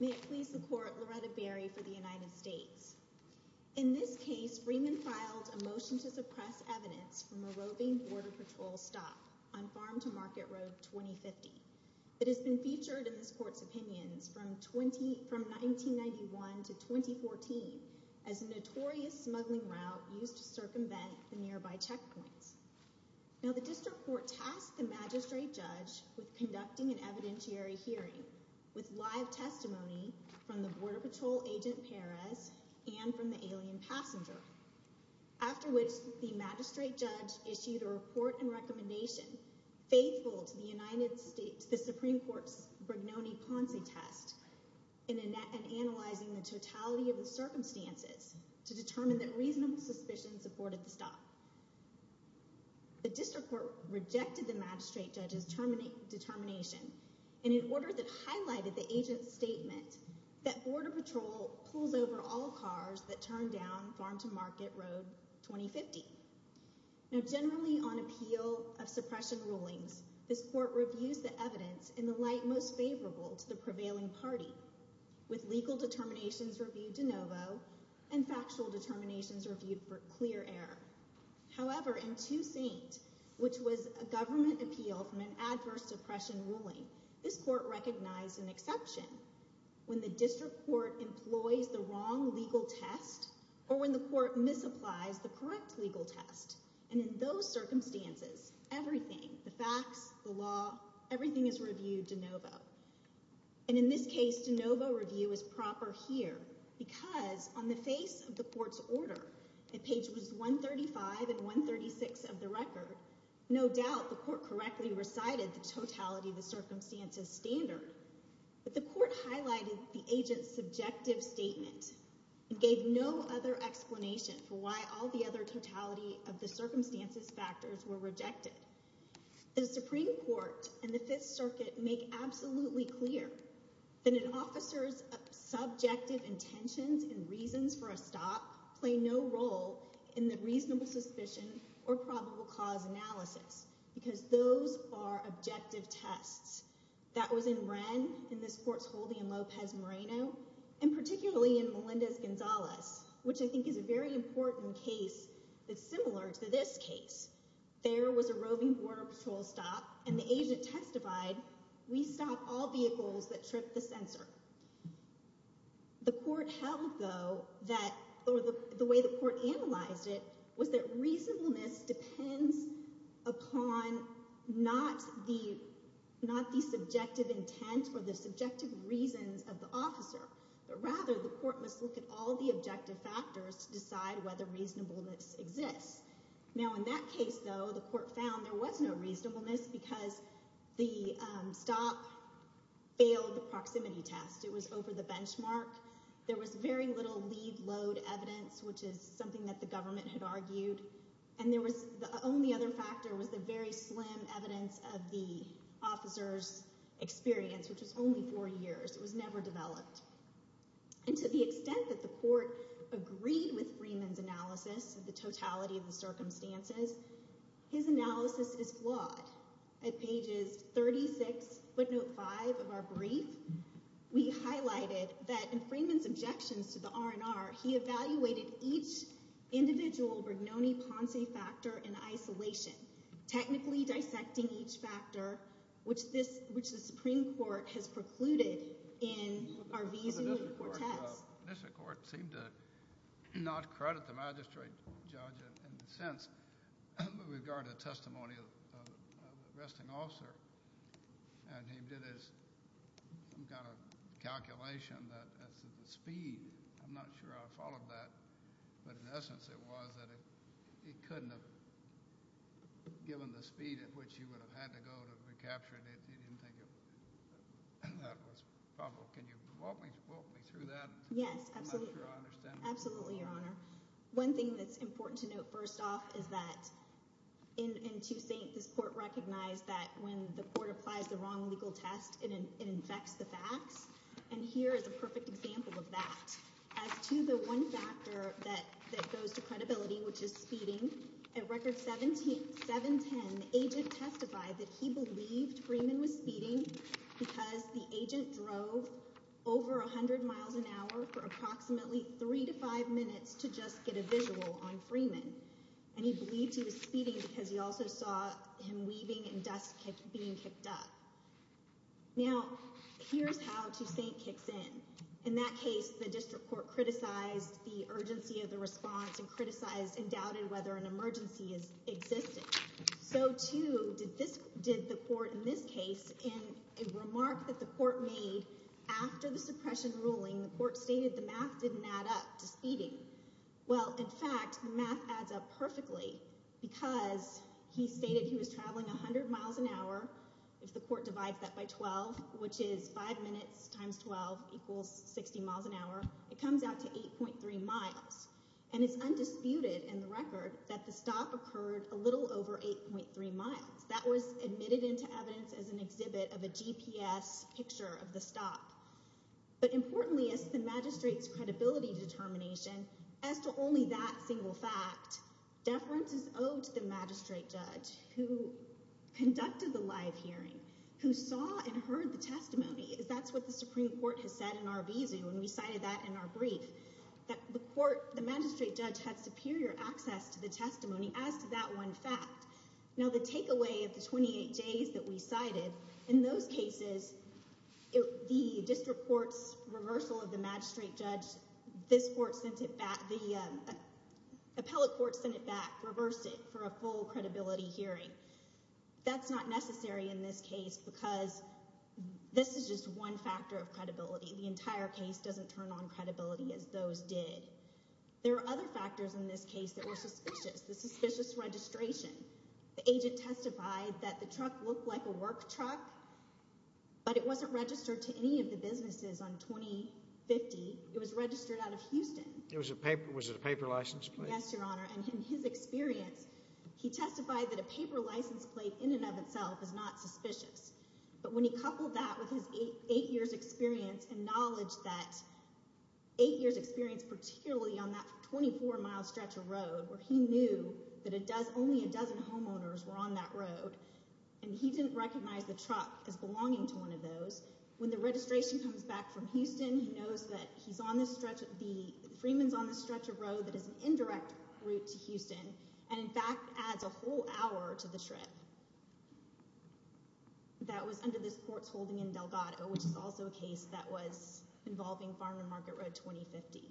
May it please the Court, Loretta Berry for the United States. In this case, Freeman filed a motion to suppress evidence from a roving Border Patrol stop on Farm-to-Market Road 20-50. It has been featured in this Court's opinions from 1991 to 2014 as a notorious smuggling route used to circumvent the nearby checkpoints. Now, the District Court tasked the Magistrate Judge with conducting an evidentiary hearing with live testimony from the Border Patrol Agent Perez and from the alien passenger, after which the Magistrate Judge issued a report and recommendation faithful to the United States Supreme Court's Brignone-Ponce test and analyzing the totality of the circumstances to determine that reasonable suspicion supported the stop. The District Court rejected the Magistrate Judge's determination in an order that highlighted the Agent's statement that Border Patrol pulls over all cars that turn down Farm-to-Market Road 20-50. Now, generally on appeal of suppression rulings, this Court reviews the evidence in the light most favorable to the prevailing party, with legal determinations reviewed de novo and factual determinations reviewed for clear error. However, in Two Saint, which was a government appeal from an adverse suppression ruling, this Court recognized an exception. When the District Court employs the wrong legal test or when the Court misapplies the correct legal test, and in those circumstances, everything, the facts, the law, everything is reviewed de novo. And in this case, de novo review is proper here because on the face of the Court's order, at pages 135 and 136 of the record, no doubt the Court correctly recited the totality of the circumstances standard, but the Court highlighted the Agent's subjective statement and gave no other explanation for why all the other totality of the circumstances factors were rejected. The Supreme Court and the Fifth Circuit make absolutely clear that an officer's subjective intentions and reasons for a stop play no role in the reasonable suspicion or probable cause analysis because those are objective tests. That was in Wren, in this Court's holding in Lopez Moreno, and particularly in Melendez-Gonzalez, which I think is a very important case that's similar to this case. There was a roving Border Patrol stop, and the Agent testified, we stop all vehicles that trip the sensor. The Court held, though, that the way the Court analyzed it was that reasonableness depends upon not the subjective intent or the subjective reasons of the officer, but rather the Court must look at all the objective factors to decide whether reasonableness exists. Now in that case, though, the Court found there was no reasonableness because the stop failed the proximity test. It was over the benchmark. There was very little lead load evidence, which is something that the government had Another factor was the very slim evidence of the officer's experience, which was only four years. It was never developed. And to the extent that the Court agreed with Freeman's analysis of the totality of the circumstances, his analysis is flawed. At pages 36, footnote 5 of our brief, we highlighted that in Freeman's objections to the RNR, he evaluated each individual Brignone-Ponce factor in isolation, technically dissecting each factor, which the Supreme Court has precluded in our visa court test. The District Court seemed to not credit the magistrate judge in a sense with regard to the testimony of the arresting officer, and he did some kind of calculation that the speed I'm not sure I followed that, but in essence it was that it couldn't have given the speed at which you would have had to go to recapture it. He didn't think that was probable. Can you walk me through that? Yes, absolutely. I'm sure I understand. Absolutely, Your Honor. One thing that's important to note, first off, is that in Toussaint, this Court recognized that when the Court applies the wrong legal test, it infects the facts. And here is a perfect example of that. As to the one factor that goes to credibility, which is speeding, at Record 710, the agent testified that he believed Freeman was speeding because the agent drove over 100 miles an hour for approximately three to five minutes to just get a visual on Freeman. And he believed he was speeding because he also saw him weaving and dust being picked up. Now, here's how Toussaint kicks in. In that case, the District Court criticized the urgency of the response and criticized and doubted whether an emergency existed. So, too, did the Court in this case, in a remark that the Court made after the suppression ruling, the Court stated the math didn't add up to speeding. Well, in fact, the math adds up perfectly because he stated he was traveling 100 miles an hour, if the Court divides that by 12, which is five minutes times 12 equals 60 miles an hour, it comes out to 8.3 miles. And it's undisputed in the record that the stop occurred a little over 8.3 miles. That was admitted into evidence as an exhibit of a GPS picture of the stop. But importantly, as to the magistrate's credibility determination, as to only that single fact, deference is owed to the magistrate judge who conducted the live hearing, who saw and heard the testimony. That's what the Supreme Court has said in Arvizu, and we cited that in our brief, that the court, the magistrate judge, had superior access to the testimony as to that one fact. Now, the takeaway of the 28 days that we cited, in those cases, the District Court's reversal of the magistrate judge, this court sent it back, the appellate court sent it back, reversed it for a full credibility hearing. That's not necessary in this case because this is just one factor of credibility. The entire case doesn't turn on credibility as those did. There are other factors in this case that were suspicious. The suspicious registration. The agent testified that the truck looked like a work truck, but it wasn't registered to any of the businesses on 20-50. It was registered out of Houston. Was it a paper license plate? Yes, Your Honor. And in his experience, he testified that a paper license plate in and of itself is not suspicious. But when he coupled that with his eight years' experience and knowledge that eight years' experience, particularly on that 24-mile stretch of road where he knew that only a dozen homeowners were on that road, and he didn't recognize the truck as belonging to one of those, when the registration comes back from Houston, he knows that Freeman's on the stretch of road that is an indirect route to Houston, and in fact adds a whole hour to the trip that was under this court's holding in Delgado, which is also a case that was involving Farm and Market Road 20-50.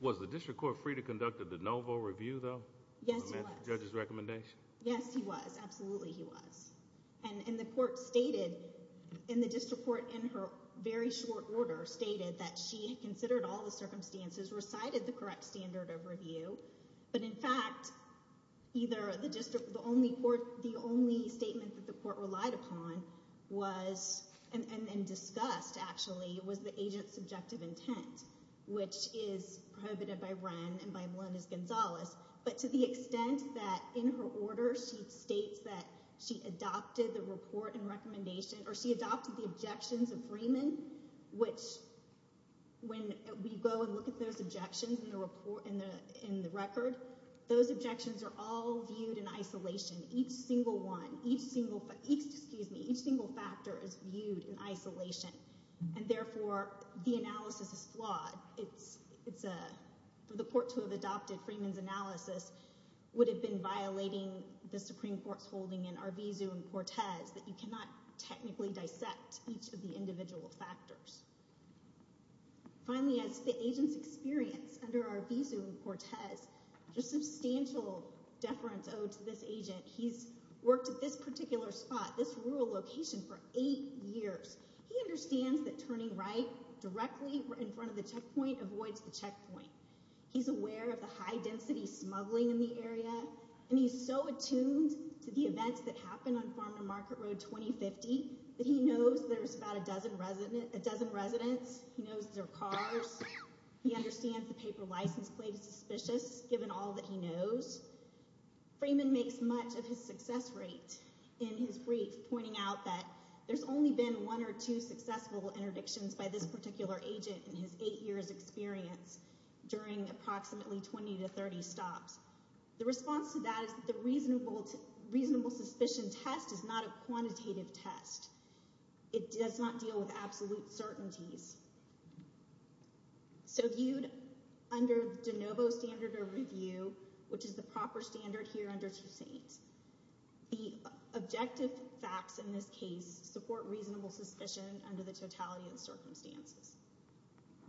Was the District Court free to conduct a de novo review, though? Yes, he was. On the magistrate judge's recommendation? Yes, he was. Absolutely, he was. And the court stated, and the District Court in her very short order stated that she had considered all the circumstances, recited the correct standard of review, but in fact, either the District, the only court, the only statement that the court relied upon was, and discussed actually, was the agent's subjective intent, which is prohibited by Wren and by her order, she states that she adopted the report and recommendation, or she adopted the objections of Freeman, which when we go and look at those objections in the record, those objections are all viewed in isolation. Each single one, each single, excuse me, each single factor is viewed in isolation, and therefore, the analysis is flawed. For the court to have adopted Freeman's analysis would have been violating the Supreme Court's holding in Arvizu and Portez that you cannot technically dissect each of the individual factors. Finally, as the agent's experience under Arvizu and Portez, there's substantial deference owed to this agent. He's worked at this particular spot, this rural location, for eight years. He understands that turning right directly in front of the checkpoint avoids the checkpoint. He's aware of the high-density smuggling in the area, and he's so attuned to the events that happened on Farmer Market Road 2050 that he knows there's about a dozen residents, he knows there are cars, he understands the paper license plate is suspicious, given all that he knows. Freeman makes much of his success rate in his brief, pointing out that there's only been one or two successful interdictions by this particular agent in his eight years experience during approximately 20 to 30 stops. The response to that is that the reasonable suspicion test is not a quantitative test. It does not deal with absolute certainties. So viewed under the De Novo standard of review, which is the proper standard here under Susaint, the objective facts in this case support reasonable suspicion under the totality of the circumstances.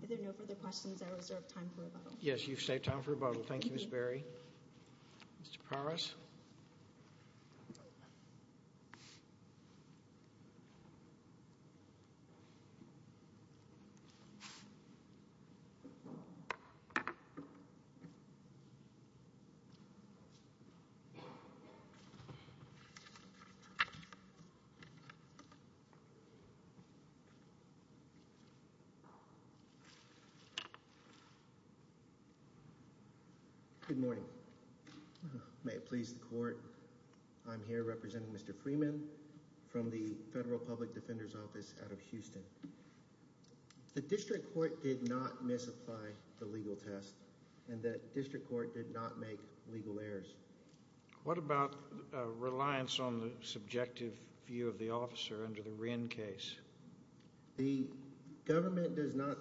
If there are no further questions, I reserve time for rebuttal. Yes, you've saved time for rebuttal. Thank you, Ms. Berry. Mr. Paras? Thank you. Good morning. May it please the court, I'm here representing Mr. Freeman from the Federal Public Defender's Office out of Houston. The district court did not misapply the legal test, and the district court did not make legal errors. What about reliance on the subjective view of the officer under the Wren case? The government does not,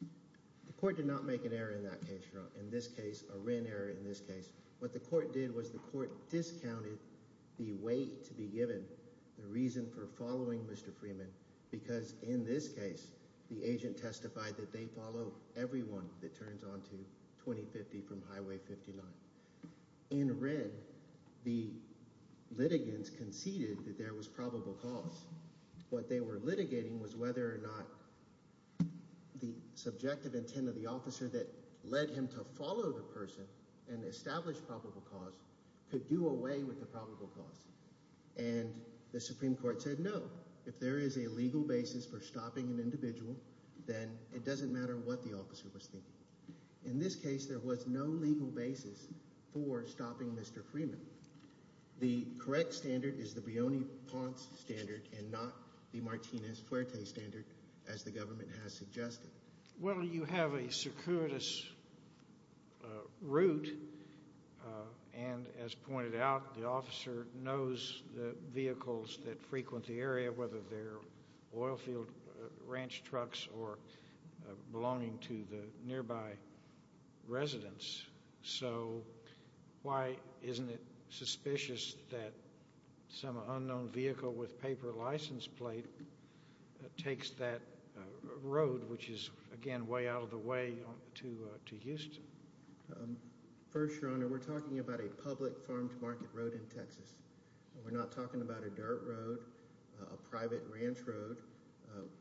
the court did not make an error in that case, in this case, a Wren error in this case. What the court did was the court discounted the weight to be given, the reason for following Mr. Freeman, because in this case, the agent testified that they follow everyone that turns on to 2050 from Highway 59. In Wren, the litigants conceded that there was probable cause. What they were litigating was whether or not the subjective intent of the officer that led him to follow the person and establish probable cause could do away with the probable cause, and the Supreme Court said no. If there is a legal basis for stopping an individual, then it doesn't matter what the officer was thinking. In this case, there was no legal basis for stopping Mr. Freeman. The correct standard is the Brioni-Ponce standard and not the Martinez-Fuerte standard, as the government has suggested. Well, you have a circuitous route, and as pointed out, the officer knows the vehicles that frequent the area, whether they're oilfield ranch trucks or belonging to the nearby residents. So, why isn't it suspicious that some unknown vehicle with paper license plate takes that road, which is, again, way out of the way to Houston? First, Your Honor, we're talking about a public farm-to-market road in Texas. We're not talking about a dirt road, a private ranch road,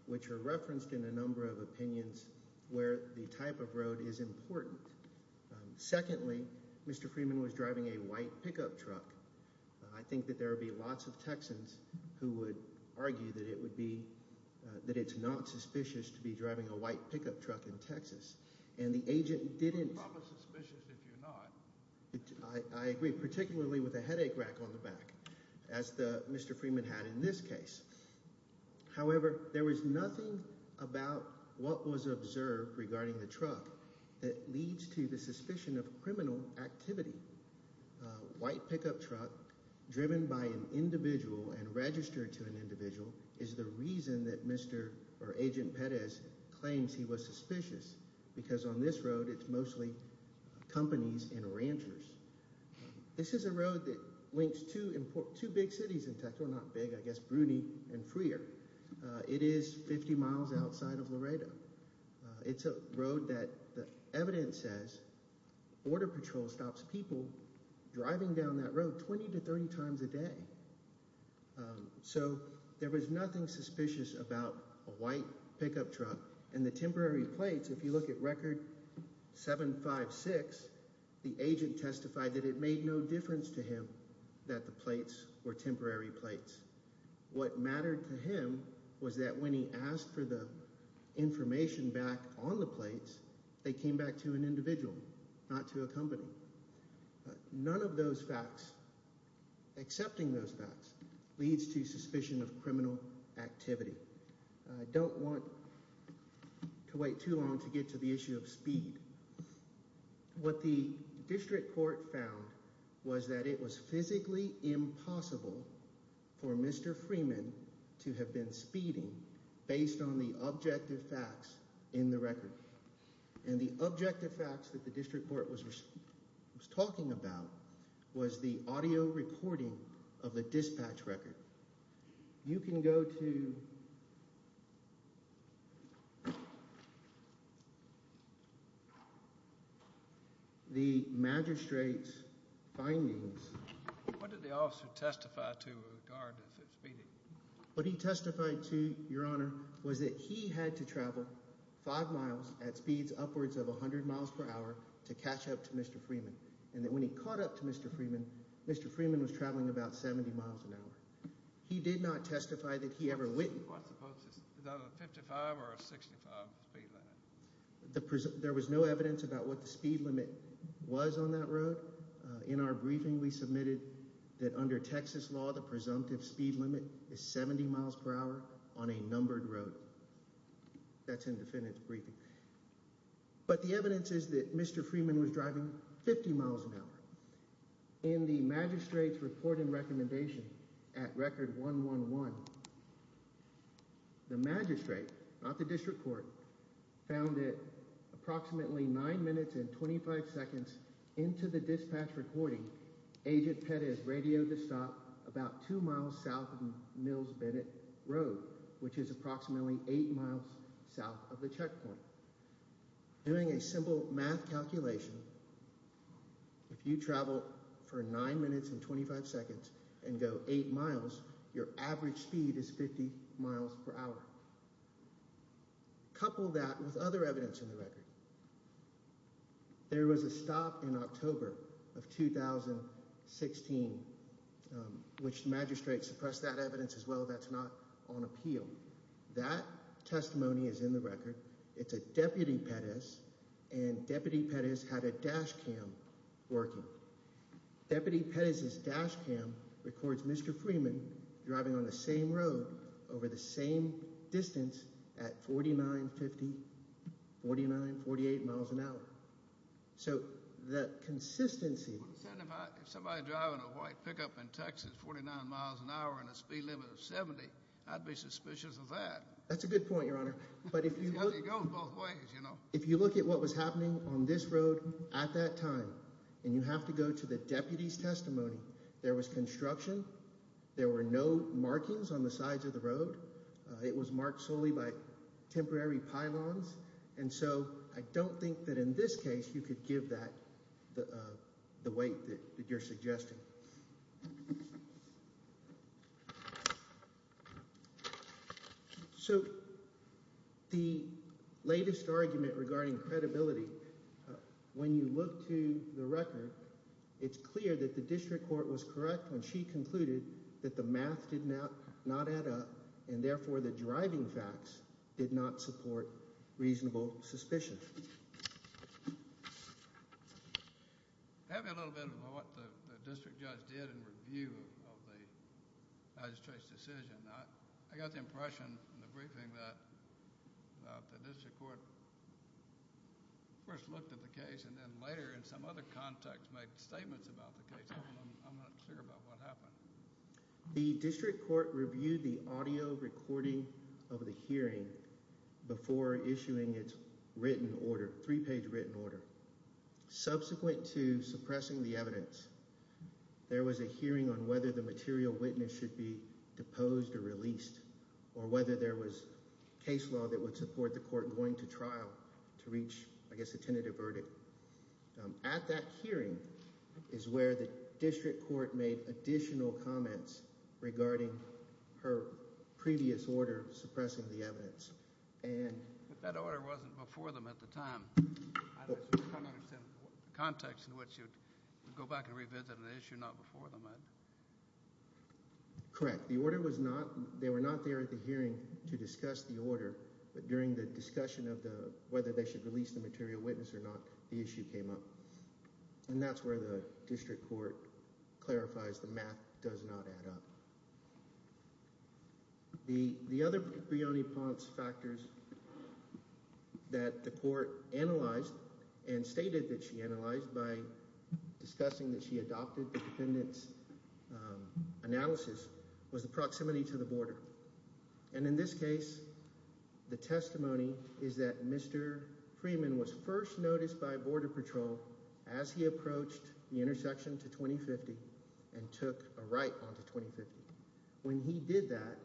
which are referenced in a number of opinions where the type of road is important. Secondly, Mr. Freeman was driving a white pickup truck. I think that there would be lots of Texans who would argue that it would be, that it's not suspicious to be driving a white pickup truck in Texas, and the agent didn't. You're probably suspicious if you're not. I agree, particularly with the headache rack on the back, as Mr. Freeman had in this case. However, there was nothing about what was observed regarding the truck that leads to the suspicion of criminal activity. A white pickup truck driven by an individual and registered to an individual is the reason that Agent Perez claims he was suspicious, because on this road it's mostly companies and ranchers. This is a road that links two big cities in Texas, well, not big, I guess, Bruny and Freer. It is 50 miles outside of Laredo. It's a road that the evidence says Border Patrol stops people driving down that road 20 to 30 times a day. So there was nothing suspicious about a white pickup truck and the temporary plates. If you look at Record 756, the agent testified that it made no difference to him that the plates were temporary plates. What mattered to him was that when he asked for the information back on the plates, they came back to an individual, not to a company. None of those facts, accepting those facts, leads to suspicion of criminal activity. I don't want to wait too long to get to the issue of speed. What the district court found was that it was physically impossible for Mr. Freeman to have been speeding based on the objective facts in the record. And the objective facts that the district court was talking about was the audio recording of the dispatch record. You can go to the magistrate's findings. What did the officer testify to who guarded his speeding? What he testified to, Your Honor, was that he had to travel five miles at speeds upwards of 100 miles per hour to catch up to Mr. Freeman. And that when he caught up to Mr. Freeman, Mr. Freeman was traveling about 70 miles an hour. He did not testify that he ever went. There was no evidence about what the speed limit was on that road. In our briefing, we submitted that under Texas law, the presumptive speed limit is 70 miles per hour on a numbered road. That's in the defendant's briefing. But the evidence is that Mr. Freeman was driving 50 miles an hour. In the magistrate's report and recommendation at Record 111, the magistrate, not the district into the dispatch recording. Agent Pett is radioed to stop about two miles south of Mills Bennett Road, which is approximately eight miles south of the checkpoint. Doing a simple math calculation. If you travel for nine minutes and 25 seconds and go eight miles, your average speed is 50 miles per hour. Couple that with other evidence in the record. There was a stop in October of 2016, which magistrate suppress that evidence as well. That's not on appeal. That testimony is in the record. It's a deputy Pettis and Deputy Pettis had a dash cam working. Deputy Pettis's dash cam records Mr. Freeman driving on the same road over the same distance at 49, 50, 49, 48 miles an hour. So that consistency. Somebody driving a white pickup in Texas, 49 miles an hour and a speed limit of 70. I'd be suspicious of that. That's a good point, Your Honor. But if you go both ways, you know, if you look at what was happening on this road at that time and you have to go to the deputy's testimony, there was construction. There were no markings on the sides of the road. It was marked solely by temporary pylons. And so I don't think that in this case you could give that the weight that you're suggesting. So the latest argument regarding credibility, when you look to the record, it's clear that the district court was correct when she concluded that the math did not add up and therefore the driving facts did not support reasonable suspicion. Tell me a little bit about what the district judge did in review of the magistrate's decision. I got the impression in the briefing that the district court first looked at the case and then later in some other context made statements about the case. I'm not clear about what happened. The district court reviewed the audio recording of the hearing before issuing its written order, three-page written order. Subsequent to suppressing the evidence, there was a hearing on whether the material witness should be deposed or released or whether there was case law that would support the court going to trial to reach, I guess, a tentative verdict. At that hearing is where the district court made additional comments regarding her previous order suppressing the evidence. But that order wasn't before them at the time. I don't understand the context in which you'd go back and revisit an issue not before them. Correct. The order was not, they were not there at the hearing to discuss the order. But during the discussion of whether they should release the material witness or not, the issue came up. And that's where the district court clarifies the math does not add up. The other Brioni-Ponce factors that the court analyzed and stated that she analyzed by discussing that she adopted the defendant's analysis was the proximity to the border. And in this case, the testimony is that Mr. Freeman was first noticed by Border Patrol as he approached the intersection to 2050 and took a right onto 2050. When he did that,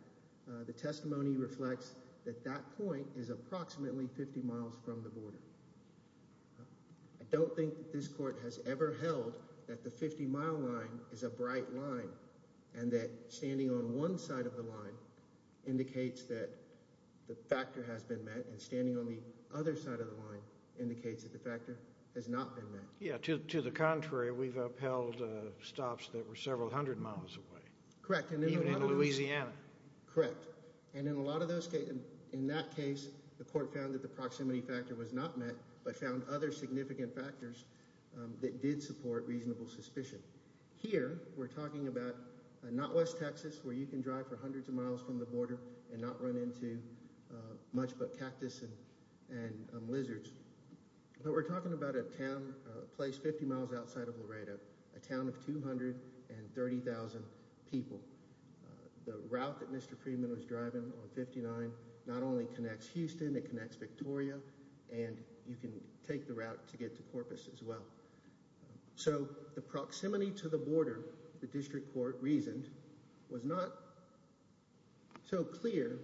the testimony reflects that that point is approximately 50 miles from the border. I don't think this court has ever held that the 50-mile line is a bright line and that standing on one side of the line indicates that the factor has been met and standing on the other side of the line indicates that the factor has not been met. Yeah, to the contrary, we've upheld stops that were several hundred miles away. Correct. Even in Louisiana. Correct. And in a lot of those cases, in that case, the court found that the proximity factor was not met but found other significant factors that did support reasonable suspicion. Here, we're talking about not West Texas, where you can drive for hundreds of miles from the border and not run into much but cactus and lizards, but we're talking about a town placed 50 miles outside of Laredo, a town of 230,000 people. The route that Mr. Freeman was driving on 59 not only connects Houston, it connects Victoria, and you can take the route to get to Corpus as well. So the proximity to the border, the district court reasoned, was not so clear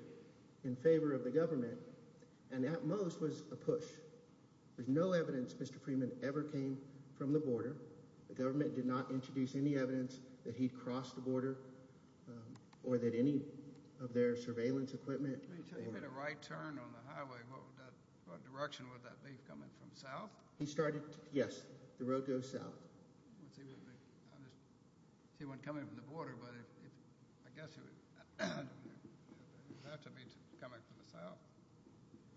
in favor of the government and at most was a push. There's no evidence Mr. Freeman ever came from the border. The government did not introduce any evidence that he crossed the border or that any of their surveillance equipment. If he made a right turn on the highway, what direction would that be coming from? South? He started, yes, the road goes south. He wasn't coming from the border, but I guess he was about to be coming from the south.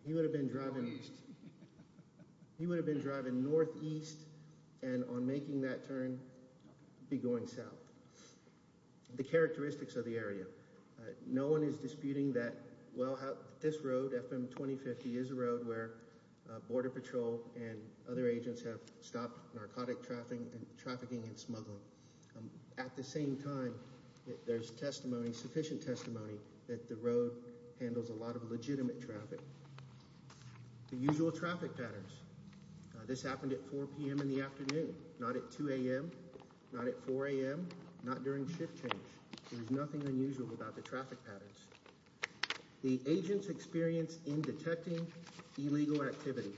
He would have been driving northeast and on making that turn be going south. The characteristics of the area, no one is disputing that this road, FM 2050, is a road where Border Patrol and other agents have stopped narcotic trafficking and smuggling. At the same time, there's testimony, sufficient testimony, that the road handles a lot of legitimate traffic. The usual traffic patterns, this happened at 4 p.m. in the afternoon, not at 2 a.m., not at 4 a.m., not during shift change. There's nothing unusual about the traffic patterns. The agent's experience in detecting illegal activity.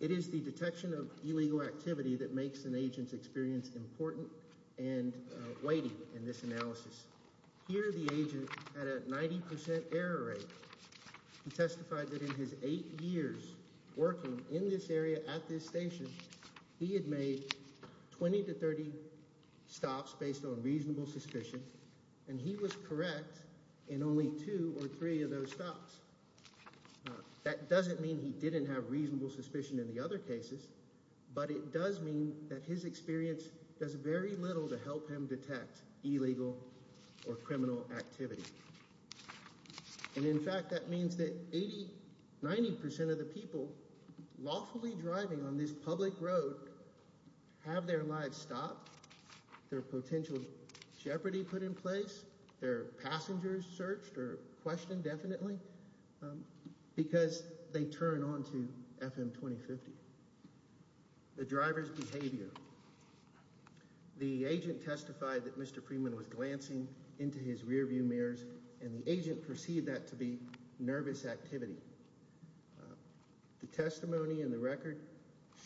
It is the detection of illegal activity that makes an agent's experience important and weighty in this analysis. Here the agent had a 90 percent error rate. He testified that in his eight years working in this area at this station, he had made 20 to 30 stops based on reasonable suspicion, and he was correct in only two or three of those stops. That doesn't mean he didn't have reasonable suspicion in the other cases, but it does mean that his experience does very little to help him detect illegal or criminal activity. And in fact, that means that 80, 90 percent of the people lawfully driving on this public road have their lives stopped. Their potential jeopardy put in place, their passengers searched or questioned definitely, because they turn on to FM-2050. The driver's behavior. The agent testified that Mr. Freeman was glancing into his rearview mirrors, and the agent perceived that to be nervous activity. The testimony in the record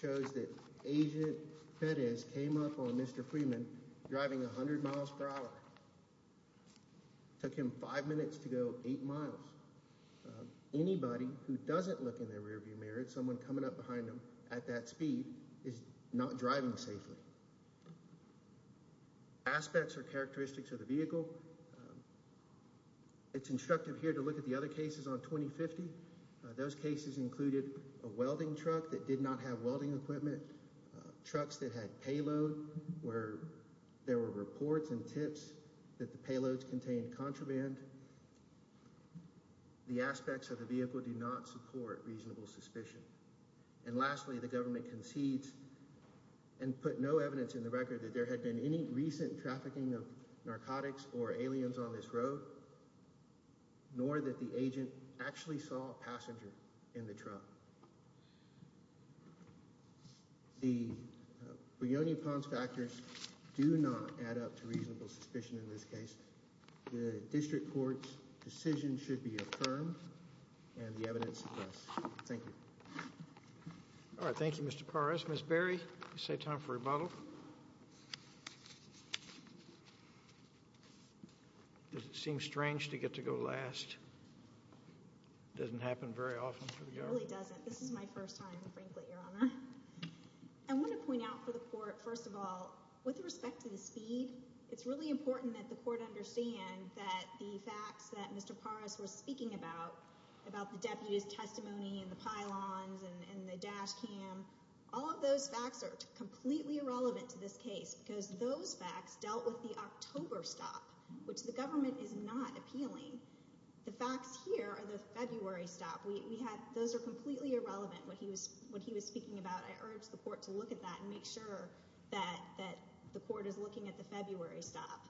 shows that agent Perez came up on Mr. Freeman driving 100 miles per hour. Took him five minutes to go eight miles. Anybody who doesn't look in their rearview mirror at someone coming up behind him at that speed is not driving safely. Aspects or characteristics of the vehicle. It's instructive here to look at the other cases on 20-50. Those cases included a welding truck that did not have welding equipment. Trucks that had payload where there were reports and tips that the payloads contained contraband. The aspects of the vehicle do not support reasonable suspicion. And lastly, the government concedes and put no evidence in the record that there had been any recent trafficking of narcotics or aliens on this road, nor that the agent actually saw a passenger in the truck. The Buoni-Pons factors do not add up to reasonable suspicion in this case. The district court's decision should be affirmed and the evidence suppressed. Thank you. All right. Thank you, Mr. Perez. Ms. Berry, you say time for rebuttal. Does it seem strange to get to go last? Doesn't happen very often. It really doesn't. This is my first time, frankly, Your Honor. I want to point out for the court, first of all, with respect to the speed, it's really important that the court understand that the facts that Mr. Perez was speaking about, about the deputy's testimony and the pylons and the dash cam, all of those facts are completely irrelevant to this case because those facts dealt with the October stop, which the government is not appealing. The facts here are the February stop. Those are completely irrelevant, what he was speaking about. I urge the court to look at that and make sure that the court is looking at the February stop.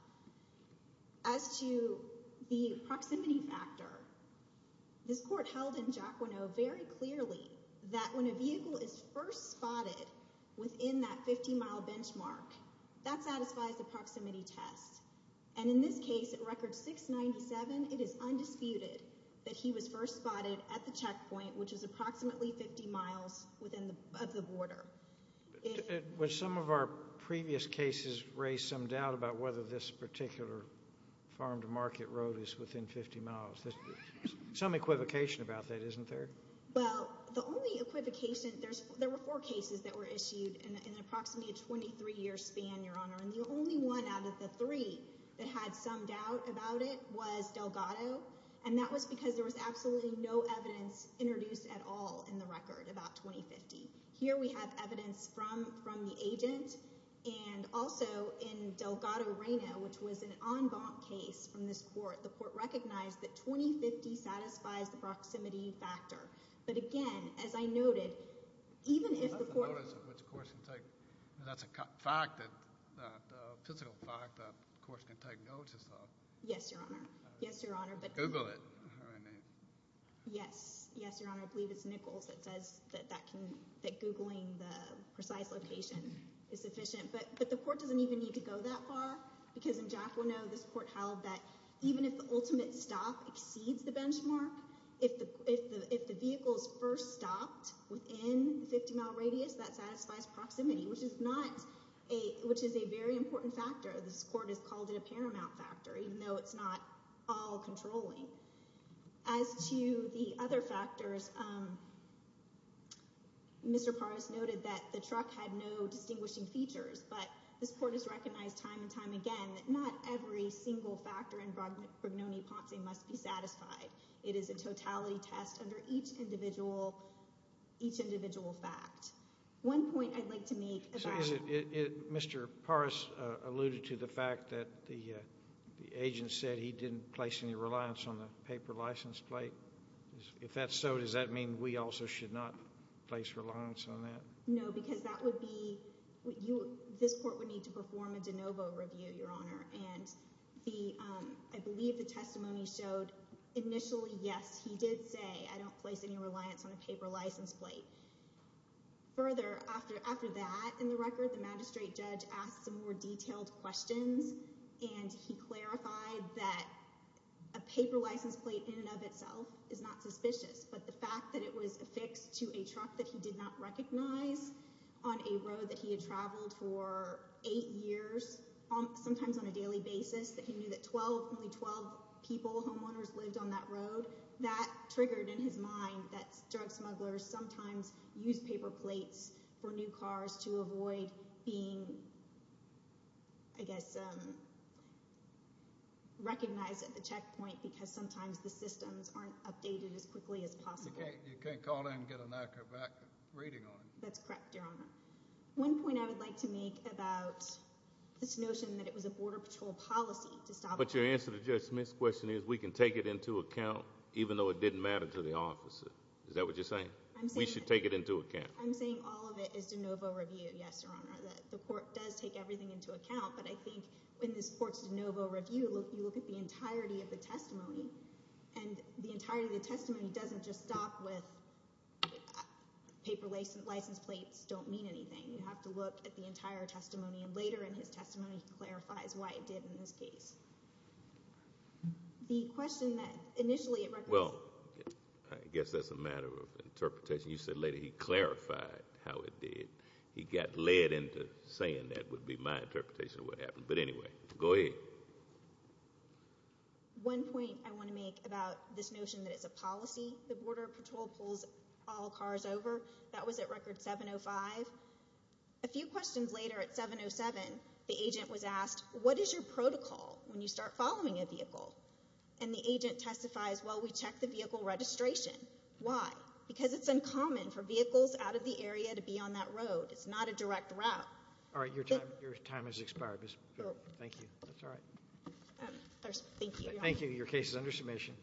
As to the proximity factor, this court held in Jaquino very clearly that when a vehicle is first spotted within that 50-mile benchmark, that satisfies the proximity test. And in this case, at record 697, it is undisputed that he was first spotted at the checkpoint, which is approximately 50 miles of the border. Some of our previous cases raised some doubt about whether this particular farm-to-market road is within 50 miles. There's some equivocation about that, isn't there? Well, the only equivocation, there were four cases that were issued in approximately a 23-year span, Your Honor, and the only one out of the three that had some doubt about it was Delgado, and that was because there was absolutely no evidence introduced at all in the record about 2050. Here we have evidence from the agent, and also in Delgado, Reno, which was an en banc case from this court, the court recognized that 2050 satisfies the proximity factor. But again, as I noted, even if the court— I don't know which course to take. That's a fact, a physical fact that the course can take notes as well. Yes, Your Honor. Yes, Your Honor. Google it. Yes. Yes, Your Honor. I believe it's Nichols that says that Googling the precise location is sufficient. But the court doesn't even need to go that far, because in Jacquinot, this court held that even if the ultimate stop exceeds the benchmark, if the vehicle is first stopped within the 50-mile radius, that satisfies proximity, which is a very important factor. This court has called it a paramount factor, even though it's not all controlling. As to the other factors, Mr. Paras noted that the truck had no distinguishing features, but this court has recognized time and time again that not every single factor in Brognoni-Ponce must be satisfied. It is a totality test under each individual fact. One point I'd like to make about— Mr. Paras alluded to the fact that the agent said he didn't place any reliance on the paper license plate. If that's so, does that mean we also should not place reliance on that? No, because that would be—this court would need to perform a de novo review, Your Honor. And I believe the testimony showed initially, yes, he did say, I don't place any reliance on a paper license plate. Further, after that, in the record, the magistrate judge asked some more detailed questions, and he clarified that a paper license plate in and of itself is not suspicious, but the fact that it was affixed to a truck that he did not recognize on a road that he had traveled for eight years, sometimes on a daily basis, that he knew that only 12 people, homeowners, lived on that road, that triggered in his mind that drug smugglers sometimes use paper plates for new cars to avoid being, I guess, recognized at the checkpoint, because sometimes the systems aren't updated as quickly as possible. You can't call in and get an accurate reading on it. That's correct, Your Honor. One point I would like to make about this notion that it was a Border Patrol policy to stop— What your answer to Judge Smith's question is, we can take it into account, even though it didn't matter to the officer. Is that what you're saying? I'm saying— We should take it into account. I'm saying all of it is de novo review, yes, Your Honor, that the court does take everything into account, but I think in this court's de novo review, you look at the entirety of the testimony, and the entirety of the testimony doesn't just stop with paper license plates don't mean anything. You have to look at the entire testimony, and later in his testimony, he clarifies why it did in this case. The question that initially— Well, I guess that's a matter of interpretation. You said later he clarified how it did. He got led into saying that would be my interpretation of what happened, but anyway, go ahead. One point I want to make about this notion that it's a policy that Border Patrol pulls all cars over, that was at Record 705. A few questions later at 707, the agent was asked, what is your protocol when you start following a vehicle? And the agent testifies, well, we check the vehicle registration. Why? Because it's uncommon for vehicles out of the area to be on that road. It's not a direct route. All right. Your time has expired. Thank you. That's all right. Thank you, Your Honor. Thank you. Your case is under submission.